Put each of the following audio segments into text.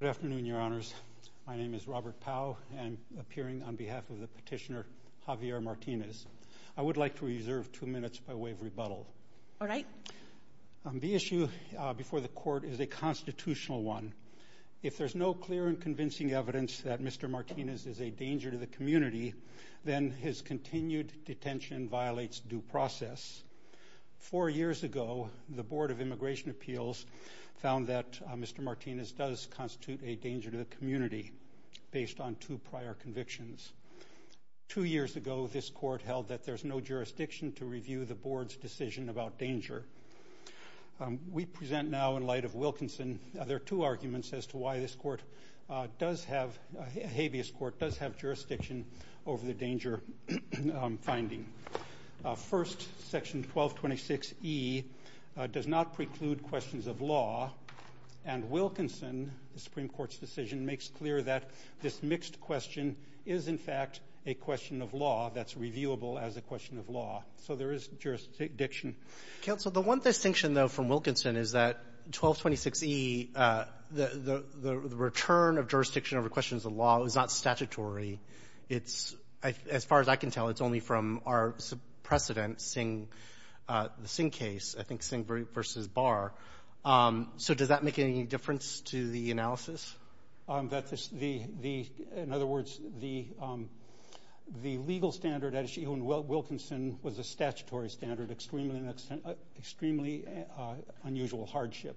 Good afternoon, Your Honors. My name is Robert Pau, and I'm appearing on behalf of the petitioner Javier Martinez. I would like to reserve two minutes by way of rebuttal. All right. The issue before the Court is a constitutional one. If there's no clear and convincing evidence that Mr. Martinez is a danger to the community, then his continued detention violates due process. Four years ago, the Board of Immigration Appeals found that Mr. Martinez does constitute a danger to the community based on two prior convictions. Two years ago, this Court held that there's no jurisdiction to review the Board's decision about danger. We present now, in light of Wilkinson, there are two arguments as to why this court does have – habeas court does have jurisdiction over the danger finding. First, Section 1226E does not preclude questions of law. And Wilkinson, the Supreme Court's decision, makes clear that this mixed question is, in fact, a question of law that's reviewable as a question of law. So there is jurisdiction. Counsel, the one distinction, though, from Wilkinson is that 1226E, the return of jurisdiction over questions of law is not statutory. As far as I can tell, it's only from our precedent, the Singh case, I think, Singh v. Barr. So does that make any difference to the analysis? In other words, the legal standard at issue in Wilkinson was a statutory standard, extremely unusual hardship,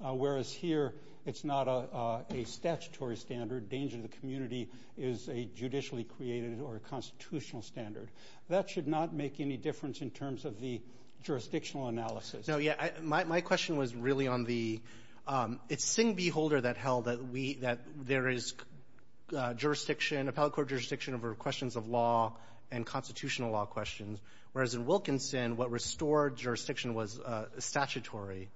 whereas here it's not a statutory standard. Danger to the community is a judicially created or a constitutional standard. That should not make any difference in terms of the jurisdictional analysis. No, yeah. My question was really on the – it's Singh v. Holder that held that there is jurisdiction, appellate court jurisdiction over questions of law and constitutional law questions, whereas in Wilkinson, what restored jurisdiction was statutory.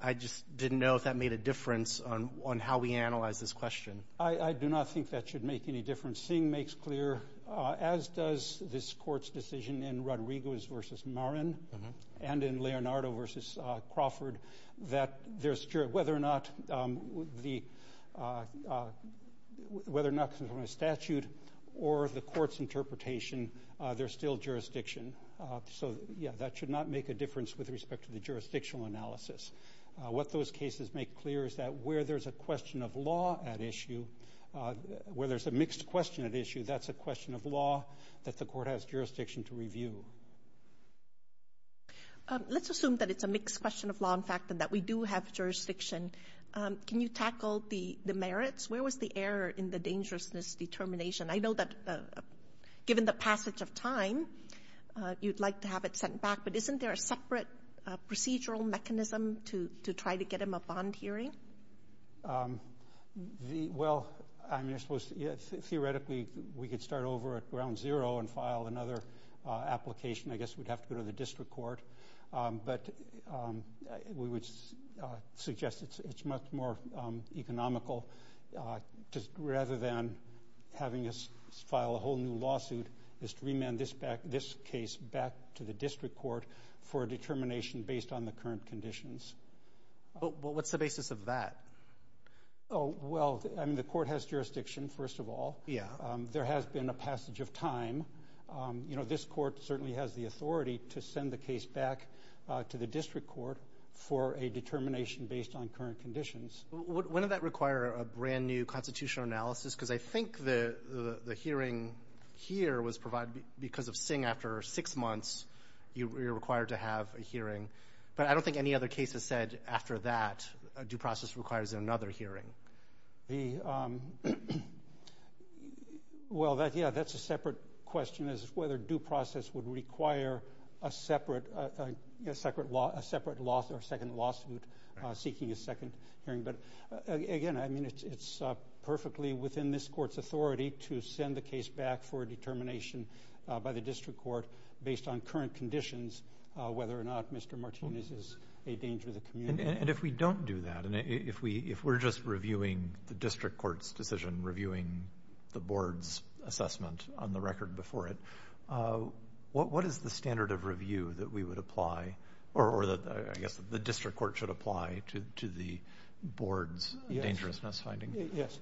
I just didn't know if that made a difference on how we analyze this question. I do not think that should make any difference. Singh makes clear, as does this Court's decision in Rodriguez v. Marin and in Leonardo v. Crawford, that there's – whether or not the – whether or not there's a statute or the Court's interpretation, there's still jurisdiction. So, yeah, that should not make a difference with respect to the jurisdictional analysis. What those cases make clear is that where there's a question of law at issue, where there's a mixed question at issue, that's a question of law that the Court has jurisdiction to review. Let's assume that it's a mixed question of law, in fact, and that we do have jurisdiction. Can you tackle the merits? Where was the error in the dangerousness determination? I know that given the passage of time, you'd like to have it sent back, but isn't there a separate procedural mechanism to try to get him a bond hearing? Well, theoretically, we could start over at ground zero and file another application. I guess we'd have to go to the district court. But we would suggest it's much more economical. Rather than having us file a whole new lawsuit, it's to remand this case back to the district court for a determination based on the current conditions. What's the basis of that? Well, I mean, the Court has jurisdiction, first of all. There has been a passage of time. You know, this Court certainly has the authority to send the case back to the district court for a determination based on current conditions. Wouldn't that require a brand-new constitutional analysis? Because I think the hearing here was provided because of Singh. After six months, you're required to have a hearing. But I don't think any other case has said after that a due process requires another hearing. Well, yeah, that's a separate question, is whether due process would require a separate lawsuit seeking a second hearing. But, again, I mean, it's perfectly within this Court's authority to send the case back for a determination by the district court based on current conditions, whether or not Mr. Martinez is a danger to the community. And if we don't do that, and if we're just reviewing the district court's decision, reviewing the board's assessment on the record before it, what is the standard of review that we would apply or that I guess the district court should apply to the board's dangerousness finding? Yes.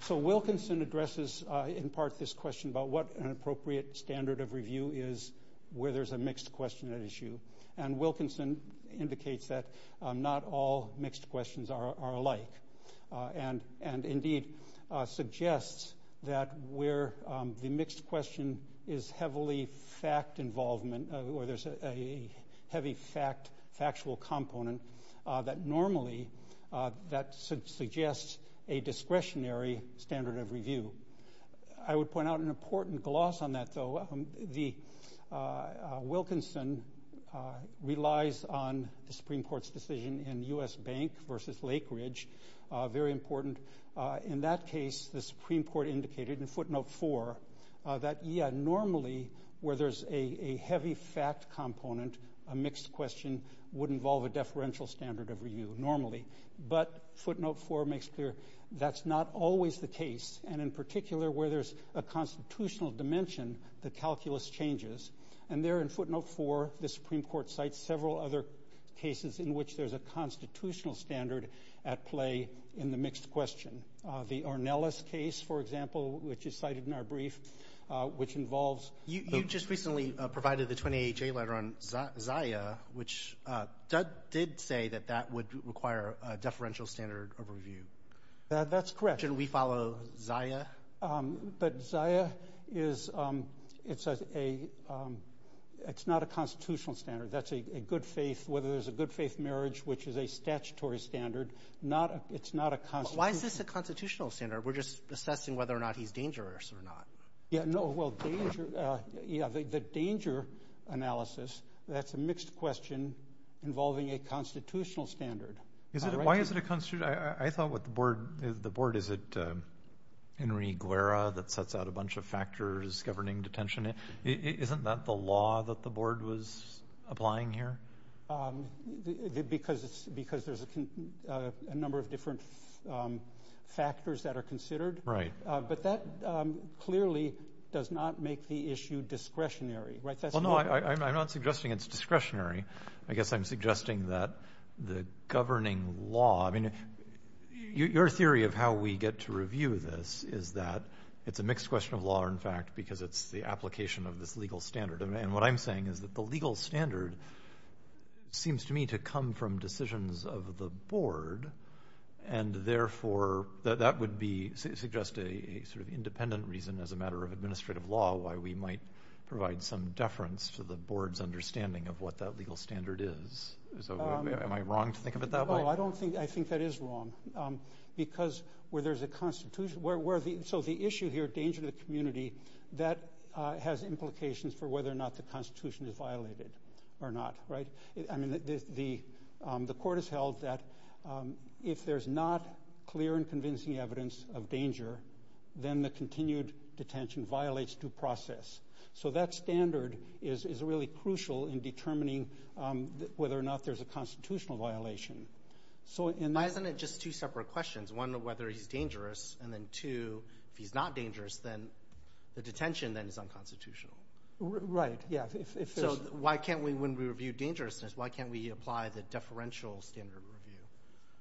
So Wilkinson addresses in part this question about what an appropriate standard of review is where there's a mixed question at issue. And Wilkinson indicates that not all mixed questions are alike and indeed suggests that where the mixed question is heavily fact involvement or there's a heavy factual component, that normally that suggests a discretionary standard of review. I would point out an important gloss on that, though. Wilkinson relies on the Supreme Court's decision in U.S. Bank v. Lake Ridge. Very important. In that case, the Supreme Court indicated in footnote 4 that, yeah, normally where there's a heavy fact component, a mixed question would involve a deferential standard of review normally. But footnote 4 makes clear that's not always the case. And in particular, where there's a constitutional dimension, the calculus changes. And there in footnote 4, the Supreme Court cites several other cases in which there's a constitutional standard at play in the mixed question. The Ornelas case, for example, which is cited in our brief, which involves the ---- You just recently provided the 20HA letter on ZIA, which did say that that would require a deferential standard of review. That's correct. But shouldn't we follow ZIA? But ZIA is a ---- it's not a constitutional standard. That's a good-faith ---- whether there's a good-faith marriage, which is a statutory standard, not a ---- it's not a constitutional ---- But why is this a constitutional standard? We're just assessing whether or not he's dangerous or not. Yeah, no, well, danger ---- yeah, the danger analysis, that's a mixed question involving a constitutional standard. Why is it a constitutional ---- I thought what the board ---- the board, is it Henry Guerra that sets out a bunch of factors governing detention? Isn't that the law that the board was applying here? Because there's a number of different factors that are considered. Right. But that clearly does not make the issue discretionary, right? Well, no, I'm not suggesting it's discretionary. I guess I'm suggesting that the governing law ---- I mean, your theory of how we get to review this is that it's a mixed question of law, in fact, because it's the application of this legal standard. And what I'm saying is that the legal standard seems to me to come from decisions of the board, and therefore that would be ---- suggest a sort of independent reason as a matter of administrative law why we might provide some deference to the board's understanding of what that legal standard is. So am I wrong to think of it that way? No, I don't think ---- I think that is wrong because where there's a constitution ---- so the issue here, danger to the community, that has implications for whether or not the constitution is violated or not, right? I mean, the court has held that if there's not clear and convincing evidence of danger, then the continued detention violates due process. So that standard is really crucial in determining whether or not there's a constitutional violation. Why isn't it just two separate questions, one, whether he's dangerous, and then two, if he's not dangerous, then the detention then is unconstitutional? Right, yeah. So why can't we, when we review dangerousness, why can't we apply the deferential standard review?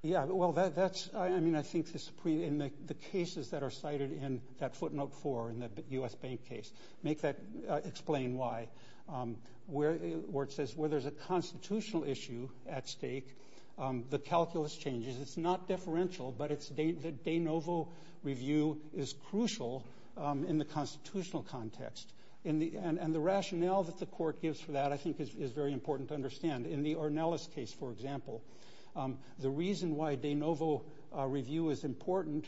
Yeah, well, that's ---- I mean, I think the Supreme ---- and the cases that are cited in that footnote four in the U.S. Bank case make that ---- explain why. Where it says where there's a constitutional issue at stake, the calculus changes. It's not deferential, but the de novo review is crucial in the constitutional context. And the rationale that the court gives for that I think is very important to understand. In the Ornelas case, for example, the reason why de novo review is important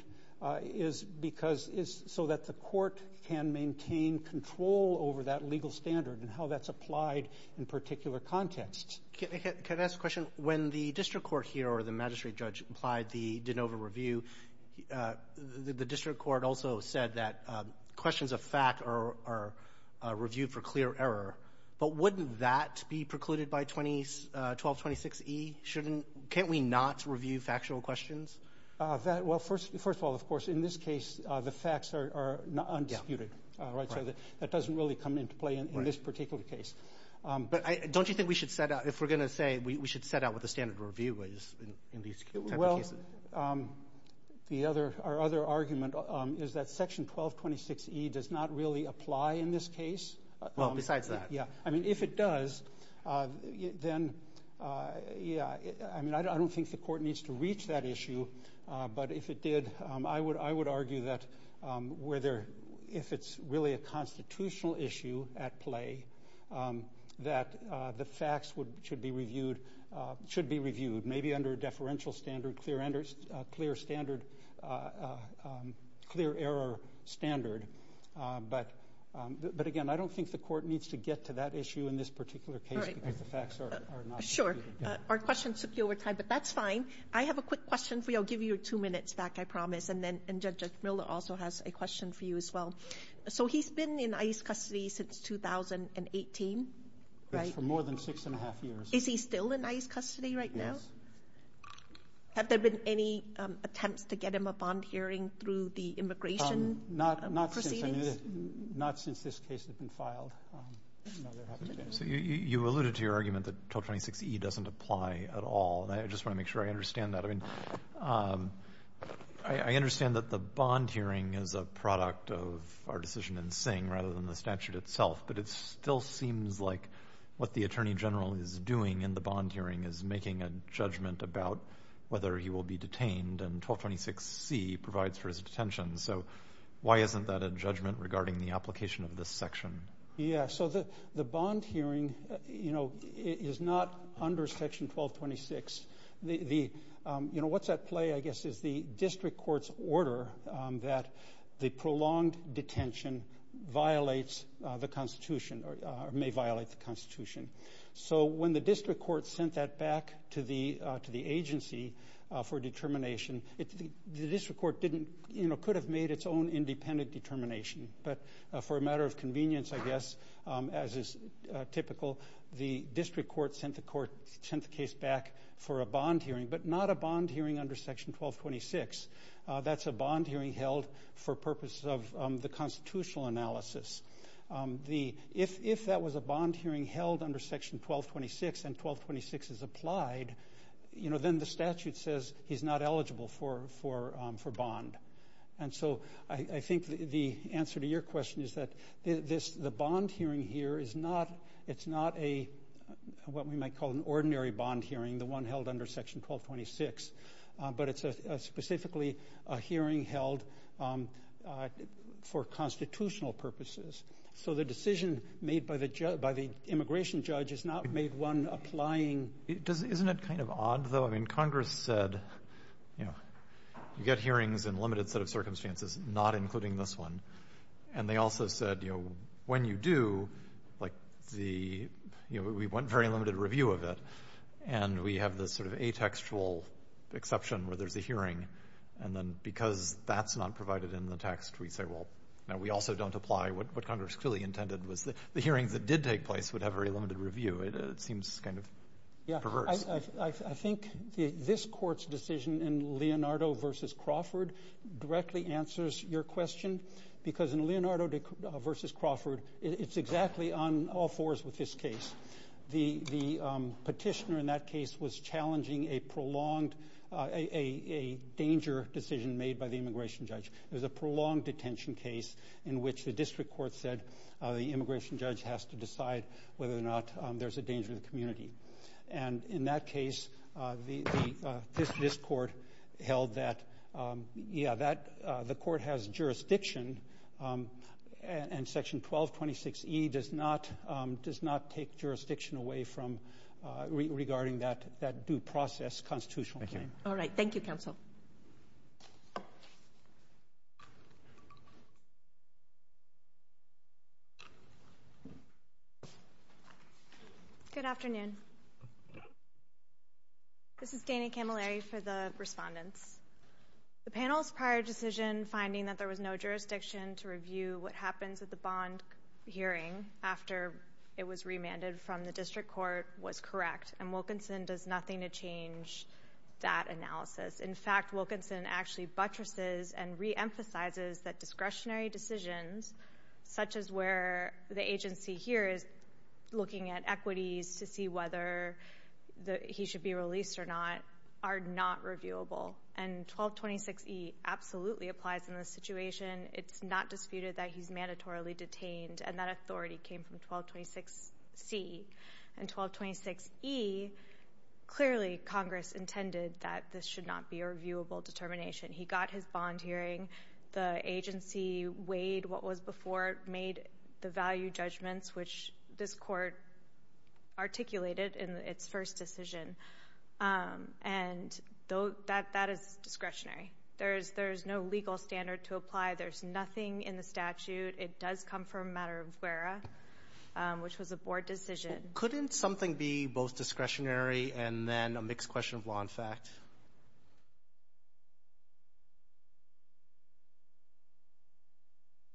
is because ---- is so that the court can maintain control over that legal standard and how that's applied in particular contexts. Can I ask a question? When the district court here or the magistrate judge applied the de novo review, the district court also said that questions of fact are reviewed for clear error. But wouldn't that be precluded by 1226E? Shouldn't ---- can't we not review factual questions? Well, first of all, of course, in this case, the facts are undisputed. Right? So that doesn't really come into play in this particular case. But don't you think we should set out ---- if we're going to say we should set out what the standard review is in these type of cases? Well, the other ---- our other argument is that Section 1226E does not really apply in this case. Well, besides that. Yeah. I mean, if it does, then, yeah, I mean, I don't think the court needs to reach that issue. But if it did, I would argue that where there ---- if it's really a constitutional issue at play, that the facts should be reviewed, maybe under a deferential standard, clear standard, clear error standard. But, again, I don't think the court needs to get to that issue in this particular case because the facts are not ---- All right. Sure. Our questions took you over time, but that's fine. I have a quick question for you. I'll give you two minutes back, I promise. And then Judge Miller also has a question for you as well. So he's been in ICE custody since 2018, right? That's for more than six and a half years. Is he still in ICE custody right now? Yes. Have there been any attempts to get him a bond hearing through the immigration process? Not since this case has been filed. No, there haven't been. So you alluded to your argument that 1226E doesn't apply at all, and I just want to make sure I understand that. I mean, I understand that the bond hearing is a product of our decision in Singh rather than the statute itself, but it still seems like what the Attorney General is doing in the bond hearing is making a judgment about whether he will be detained, and 1226C provides for his detention. So why isn't that a judgment regarding the application of this section? So the bond hearing, you know, is not under Section 1226. You know, what's at play, I guess, is the district court's order that the prolonged detention violates the Constitution or may violate the Constitution. So when the district court sent that back to the agency for determination, the district court didn't, you know, could have made its own independent determination. But for a matter of convenience, I guess, as is typical, the district court sent the case back for a bond hearing, but not a bond hearing under Section 1226. That's a bond hearing held for purposes of the constitutional analysis. If that was a bond hearing held under Section 1226 and 1226 is applied, you know, then the statute says he's not eligible for bond. And so I think the answer to your question is that the bond hearing here is not a what we might call an ordinary bond hearing, the one held under Section 1226, but it's specifically a hearing held for constitutional purposes. So the decision made by the immigration judge is not made one applying. Isn't it kind of odd, though? I mean, Congress said, you know, you get hearings in a limited set of circumstances, not including this one. And they also said, you know, when you do, like the, you know, we want very limited review of it, and we have this sort of atextual exception where there's a hearing, and then because that's not provided in the text, we say, well, no, we also don't apply. What Congress clearly intended was the hearings that did take place would have very limited review. It seems kind of perverse. I think this court's decision in Leonardo v. Crawford directly answers your question, because in Leonardo v. Crawford, it's exactly on all fours with this case. The petitioner in that case was challenging a prolonged, a danger decision made by the immigration judge. It was a prolonged detention case in which the district court said the immigration judge has to decide whether or not there's a danger to the community. And in that case, this court held that, yeah, the court has jurisdiction, and Section 1226E does not take jurisdiction away from regarding that due process constitutional hearing. Thank you. All right. Thank you, counsel. Good afternoon. This is Dana Camilleri for the respondents. The panel's prior decision finding that there was no jurisdiction to review what happens at the bond hearing after it was remanded from the district court was correct, and Wilkinson does nothing to change that analysis. In fact, Wilkinson actually buttresses and reemphasizes that discretionary decisions, such as where the agency here is looking at equities to see whether he should be released or not, are not reviewable. And 1226E absolutely applies in this situation. It's not disputed that he's mandatorily detained, and that authority came from 1226C. In 1226E, clearly Congress intended that this should not be a reviewable determination. He got his bond hearing. The agency weighed what was before, made the value judgments, which this court articulated in its first decision. And that is discretionary. There is no legal standard to apply. There's nothing in the statute. It does come from a matter of WERA, which was a board decision. Couldn't something be both discretionary and then a mixed question of law and fact?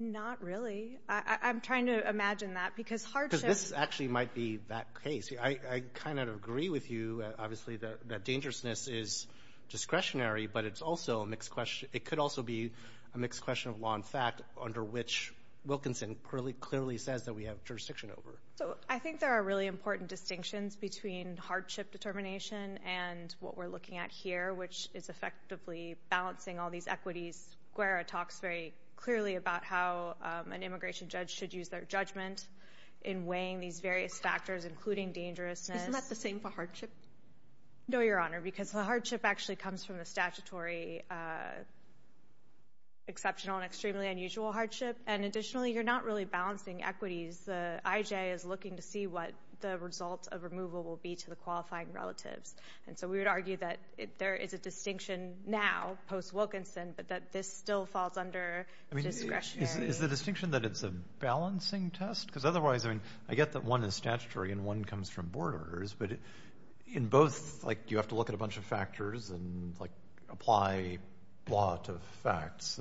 Not really. I'm trying to imagine that, because hardship — Because this actually might be that case. I kind of agree with you, obviously, that dangerousness is discretionary, but it's also a mixed question — it could also be a mixed question of law and fact, under which Wilkinson clearly says that we have jurisdiction over. So I think there are really important distinctions between hardship determination and what we're looking at here, which is effectively balancing all these equities. WERA talks very clearly about how an immigration judge should use their judgment in weighing these various factors, including dangerousness. Isn't that the same for hardship? No, Your Honor, because the hardship actually comes from the statutory exceptional and extremely unusual hardship. And additionally, you're not really balancing equities. The IJ is looking to see what the result of removal will be to the qualifying relatives. And so we would argue that there is a distinction now, post-Wilkinson, but that this still falls under discretionary. Is the distinction that it's a balancing test? Because otherwise, I mean, I get that one is statutory and one comes from board of governors, but in both, like, you have to look at a bunch of factors and, like, apply law to facts,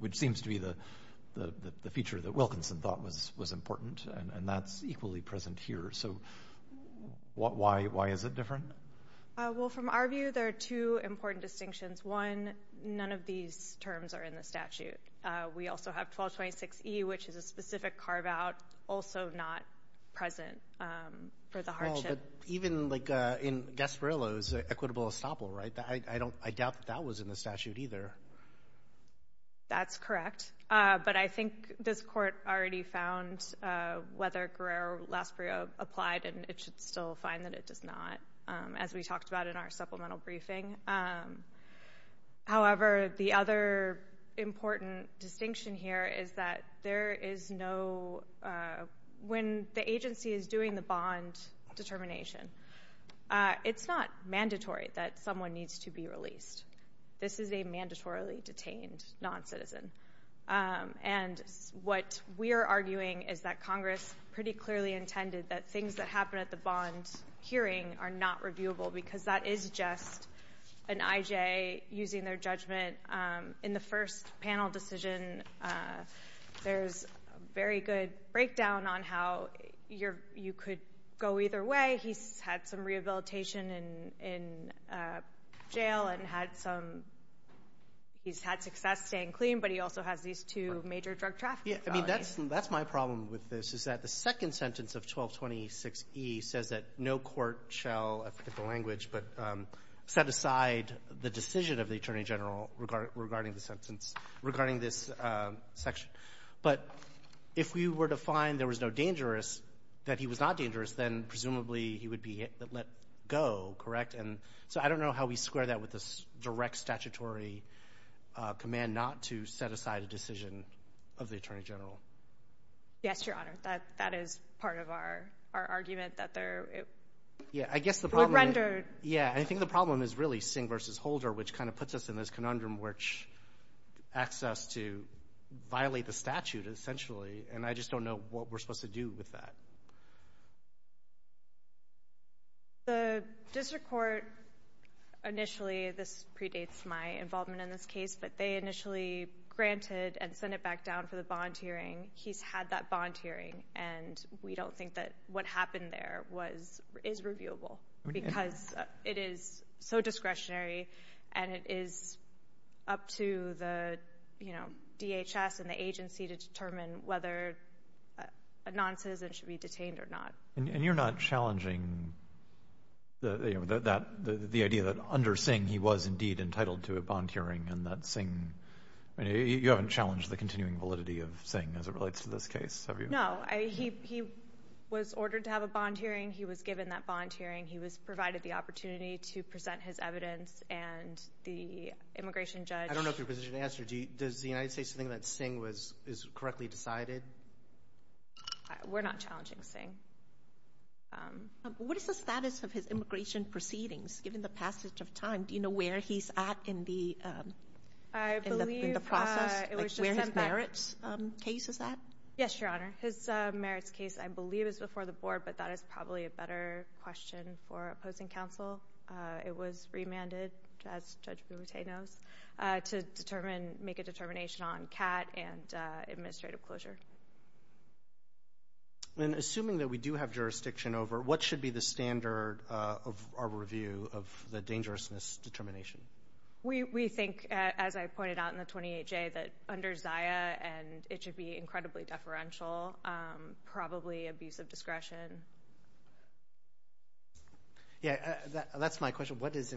which seems to be the feature that Wilkinson thought was important, and that's equally present here. So why is it different? Well, from our view, there are two important distinctions. One, none of these terms are in the statute. We also have 1226E, which is a specific carve-out, also not present for the hardship. Oh, but even, like, in Gasparillo's equitable estoppel, right, I doubt that that was in the statute either. That's correct. But I think this Court already found whether Guerrero-Lasprio applied, and it should still find that it does not, as we talked about in our supplemental briefing. However, the other important distinction here is that there is no – when the agency is doing the bond determination, it's not mandatory that someone needs to be released. This is a mandatorily detained noncitizen. And what we are arguing is that Congress pretty clearly intended that things that happen at the bond hearing are not reviewable, because that is just an IJ using their judgment. In the first panel decision, there's a very good breakdown on how you could go either way. He's had some rehabilitation in jail and had some – he's had success staying clean, but he also has these two major drug trafficking felonies. I mean, that's my problem with this, is that the second sentence of 1226E says that no court shall – I forget the language – but set aside the decision of the Attorney General regarding the sentence, regarding this section. But if we were to find there was no dangerous, that he was not dangerous, then presumably he would be let go, correct? And so I don't know how we square that with the direct statutory command not to set aside a decision of the Attorney General. Yes, Your Honor. That is part of our argument, that they're – Yeah, I guess the problem – Yeah, I think the problem is really Singh v. Holder, which kind of puts us in this conundrum which asks us to violate the statute, essentially, and I just don't know what we're supposed to do with that. The district court initially – this predates my involvement in this case – but they initially granted and sent it back down for the bond hearing. He's had that bond hearing, and we don't think that what happened there is reviewable because it is so discretionary and it is up to the DHS and the agency to determine whether a noncitizen should be detained or not. And you're not challenging the idea that under Singh he was indeed entitled to a bond hearing and that Singh – you haven't challenged the continuing validity of Singh as it relates to this case, have you? No. He was ordered to have a bond hearing. He was given that bond hearing. He was provided the opportunity to present his evidence, and the immigration judge – I don't know if you're positioned to answer. Does the United States think that Singh is correctly decided? We're not challenging Singh. What is the status of his immigration proceedings given the passage of time? Do you know where he's at in the process, where his merits case is at? Yes, Your Honor. His merits case, I believe, is before the board, but that is probably a better question for opposing counsel. It was remanded, as Judge Boutet knows, to make a determination on CAT and administrative closure. Assuming that we do have jurisdiction over, what should be the standard of our review of the dangerousness determination? We think, as I pointed out in the 28-J, that under Zia, and it should be incredibly deferential, probably abuse of discretion. That's my question. What is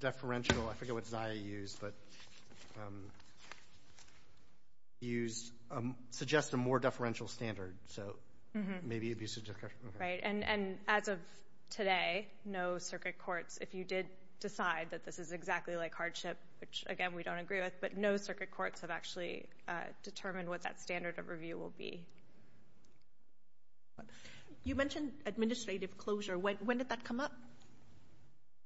deferential? I forget what Zia used, but he used – suggests a more deferential standard, so maybe abuse of discretion. Right. And as of today, no circuit courts, if you did decide that this is exactly like hardship, which, again, we don't agree with, but no circuit courts have actually determined what that standard of review will be. You mentioned administrative closure. When did that come up?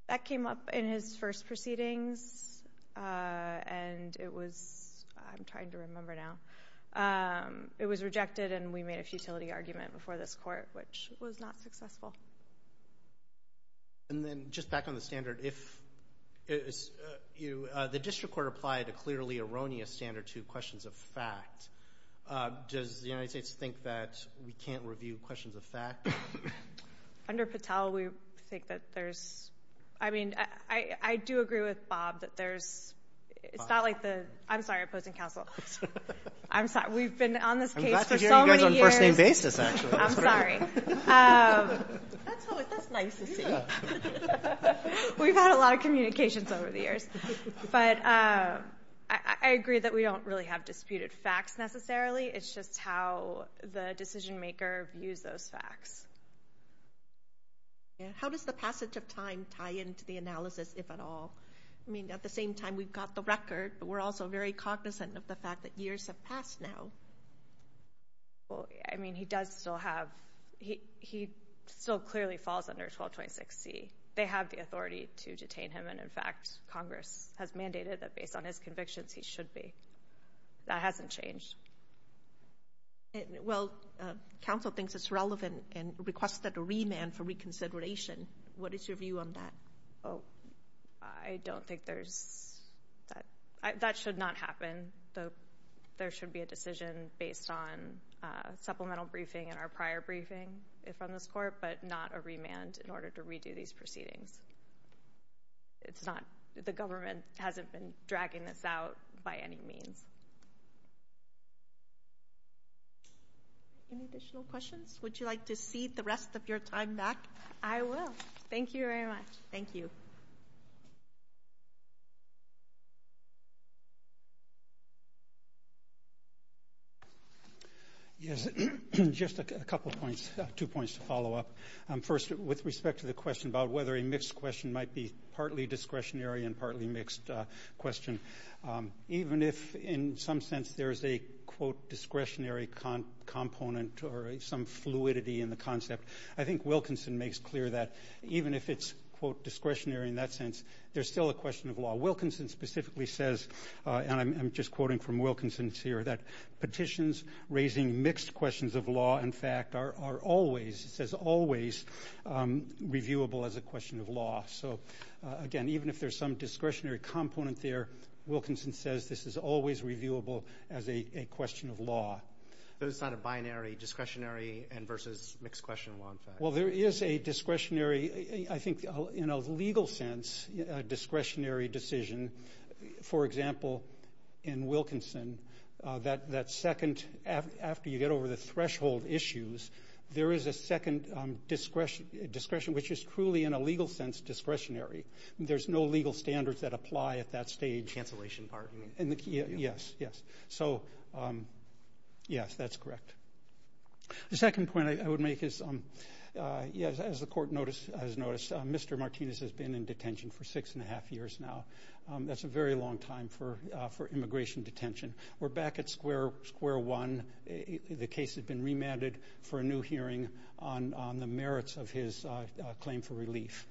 That came up in his first proceedings, and it was – I'm trying to remember now. It was rejected, and we made a futility argument before this court, which was not successful. And then just back on the standard, if – the district court applied a clearly erroneous standard to questions of fact. Does the United States think that we can't review questions of fact? Under Patel, we think that there's – I mean, I do agree with Bob that there's – It's not like the – I'm sorry, opposing counsel. I'm sorry. We've been on this case for so many years. I'm glad to hear you guys on a first-name basis, actually. I'm sorry. That's nice to see. We've had a lot of communications over the years. But I agree that we don't really have disputed facts necessarily. It's just how the decision-maker views those facts. How does the passage of time tie into the analysis, if at all? I mean, at the same time, we've got the record, but we're also very cognizant of the fact that years have passed now. Well, I mean, he does still have – he still clearly falls under 1226C. They have the authority to detain him, and in fact Congress has mandated that based on his convictions he should be. That hasn't changed. Well, counsel thinks it's relevant and requested a remand for reconsideration. What is your view on that? I don't think there's – that should not happen. There should be a decision based on supplemental briefing and our prior briefing from this court, but not a remand in order to redo these proceedings. It's not – the government hasn't been dragging this out by any means. Any additional questions? Would you like to cede the rest of your time back? I will. Thank you very much. Thank you. Yes, just a couple points, two points to follow up. First, with respect to the question about whether a mixed question might be partly discretionary and partly mixed question, even if in some sense there is a, quote, discretionary component or some fluidity in the concept, I think Wilkinson makes clear that even if it's, quote, discretionary in that sense, there's still a question of law. Wilkinson specifically says, and I'm just quoting from Wilkinson's here, that petitions raising mixed questions of law, in fact, are always, it says always reviewable as a question of law. So, again, even if there's some discretionary component there, Wilkinson says this is always reviewable as a question of law. So it's not a binary discretionary versus mixed question law, in fact? Well, there is a discretionary, I think in a legal sense, discretionary decision. For example, in Wilkinson, that second, after you get over the threshold issues, there is a second discretion, which is truly in a legal sense discretionary. There's no legal standards that apply at that stage. The cancellation part, you mean? Yes, yes. So, yes, that's correct. The second point I would make is, yes, as the court has noticed, Mr. Martinez has been in detention for six and a half years now. That's a very long time for immigration detention. We're back at square one. The case has been remanded for a new hearing on the merits of his claim for relief.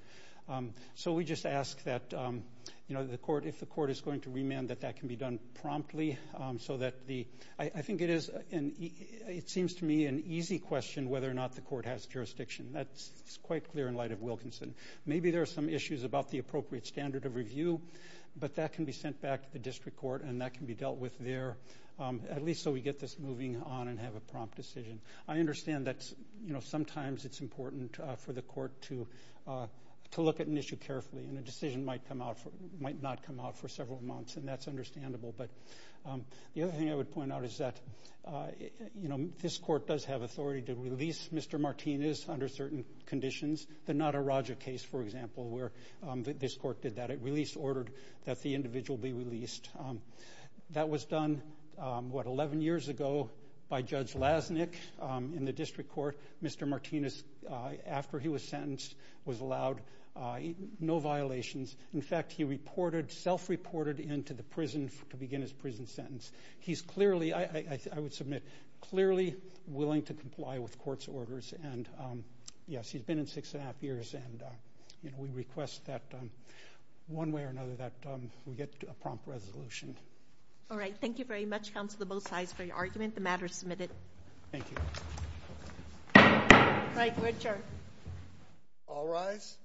So we just ask that, you know, if the court is going to remand, that that can be done promptly so that the ‑‑I think it is, it seems to me, an easy question whether or not the court has jurisdiction. That's quite clear in light of Wilkinson. Maybe there are some issues about the appropriate standard of review, but that can be sent back to the district court, and that can be dealt with there, at least so we get this moving on and have a prompt decision. I understand that, you know, sometimes it's important for the court to look at an issue carefully, and a decision might not come out for several months, and that's understandable, but the other thing I would point out is that, you know, this court does have authority to release Mr. Martinez under certain conditions, the Nadaraja case, for example, where this court did that. It released, ordered that the individual be released. That was done, what, 11 years ago by Judge Lasnik in the district court. Mr. Martinez, after he was sentenced, was allowed no violations. In fact, he reported, self-reported into the prison to begin his prison sentence. He's clearly, I would submit, clearly willing to comply with court's orders, and, yes, he's been in six and a half years, and, you know, we request that one way or another that we get a prompt resolution. All right, thank you very much, counsel, to both sides for your argument. The matter is submitted. Thank you. All right, Richard. All rise.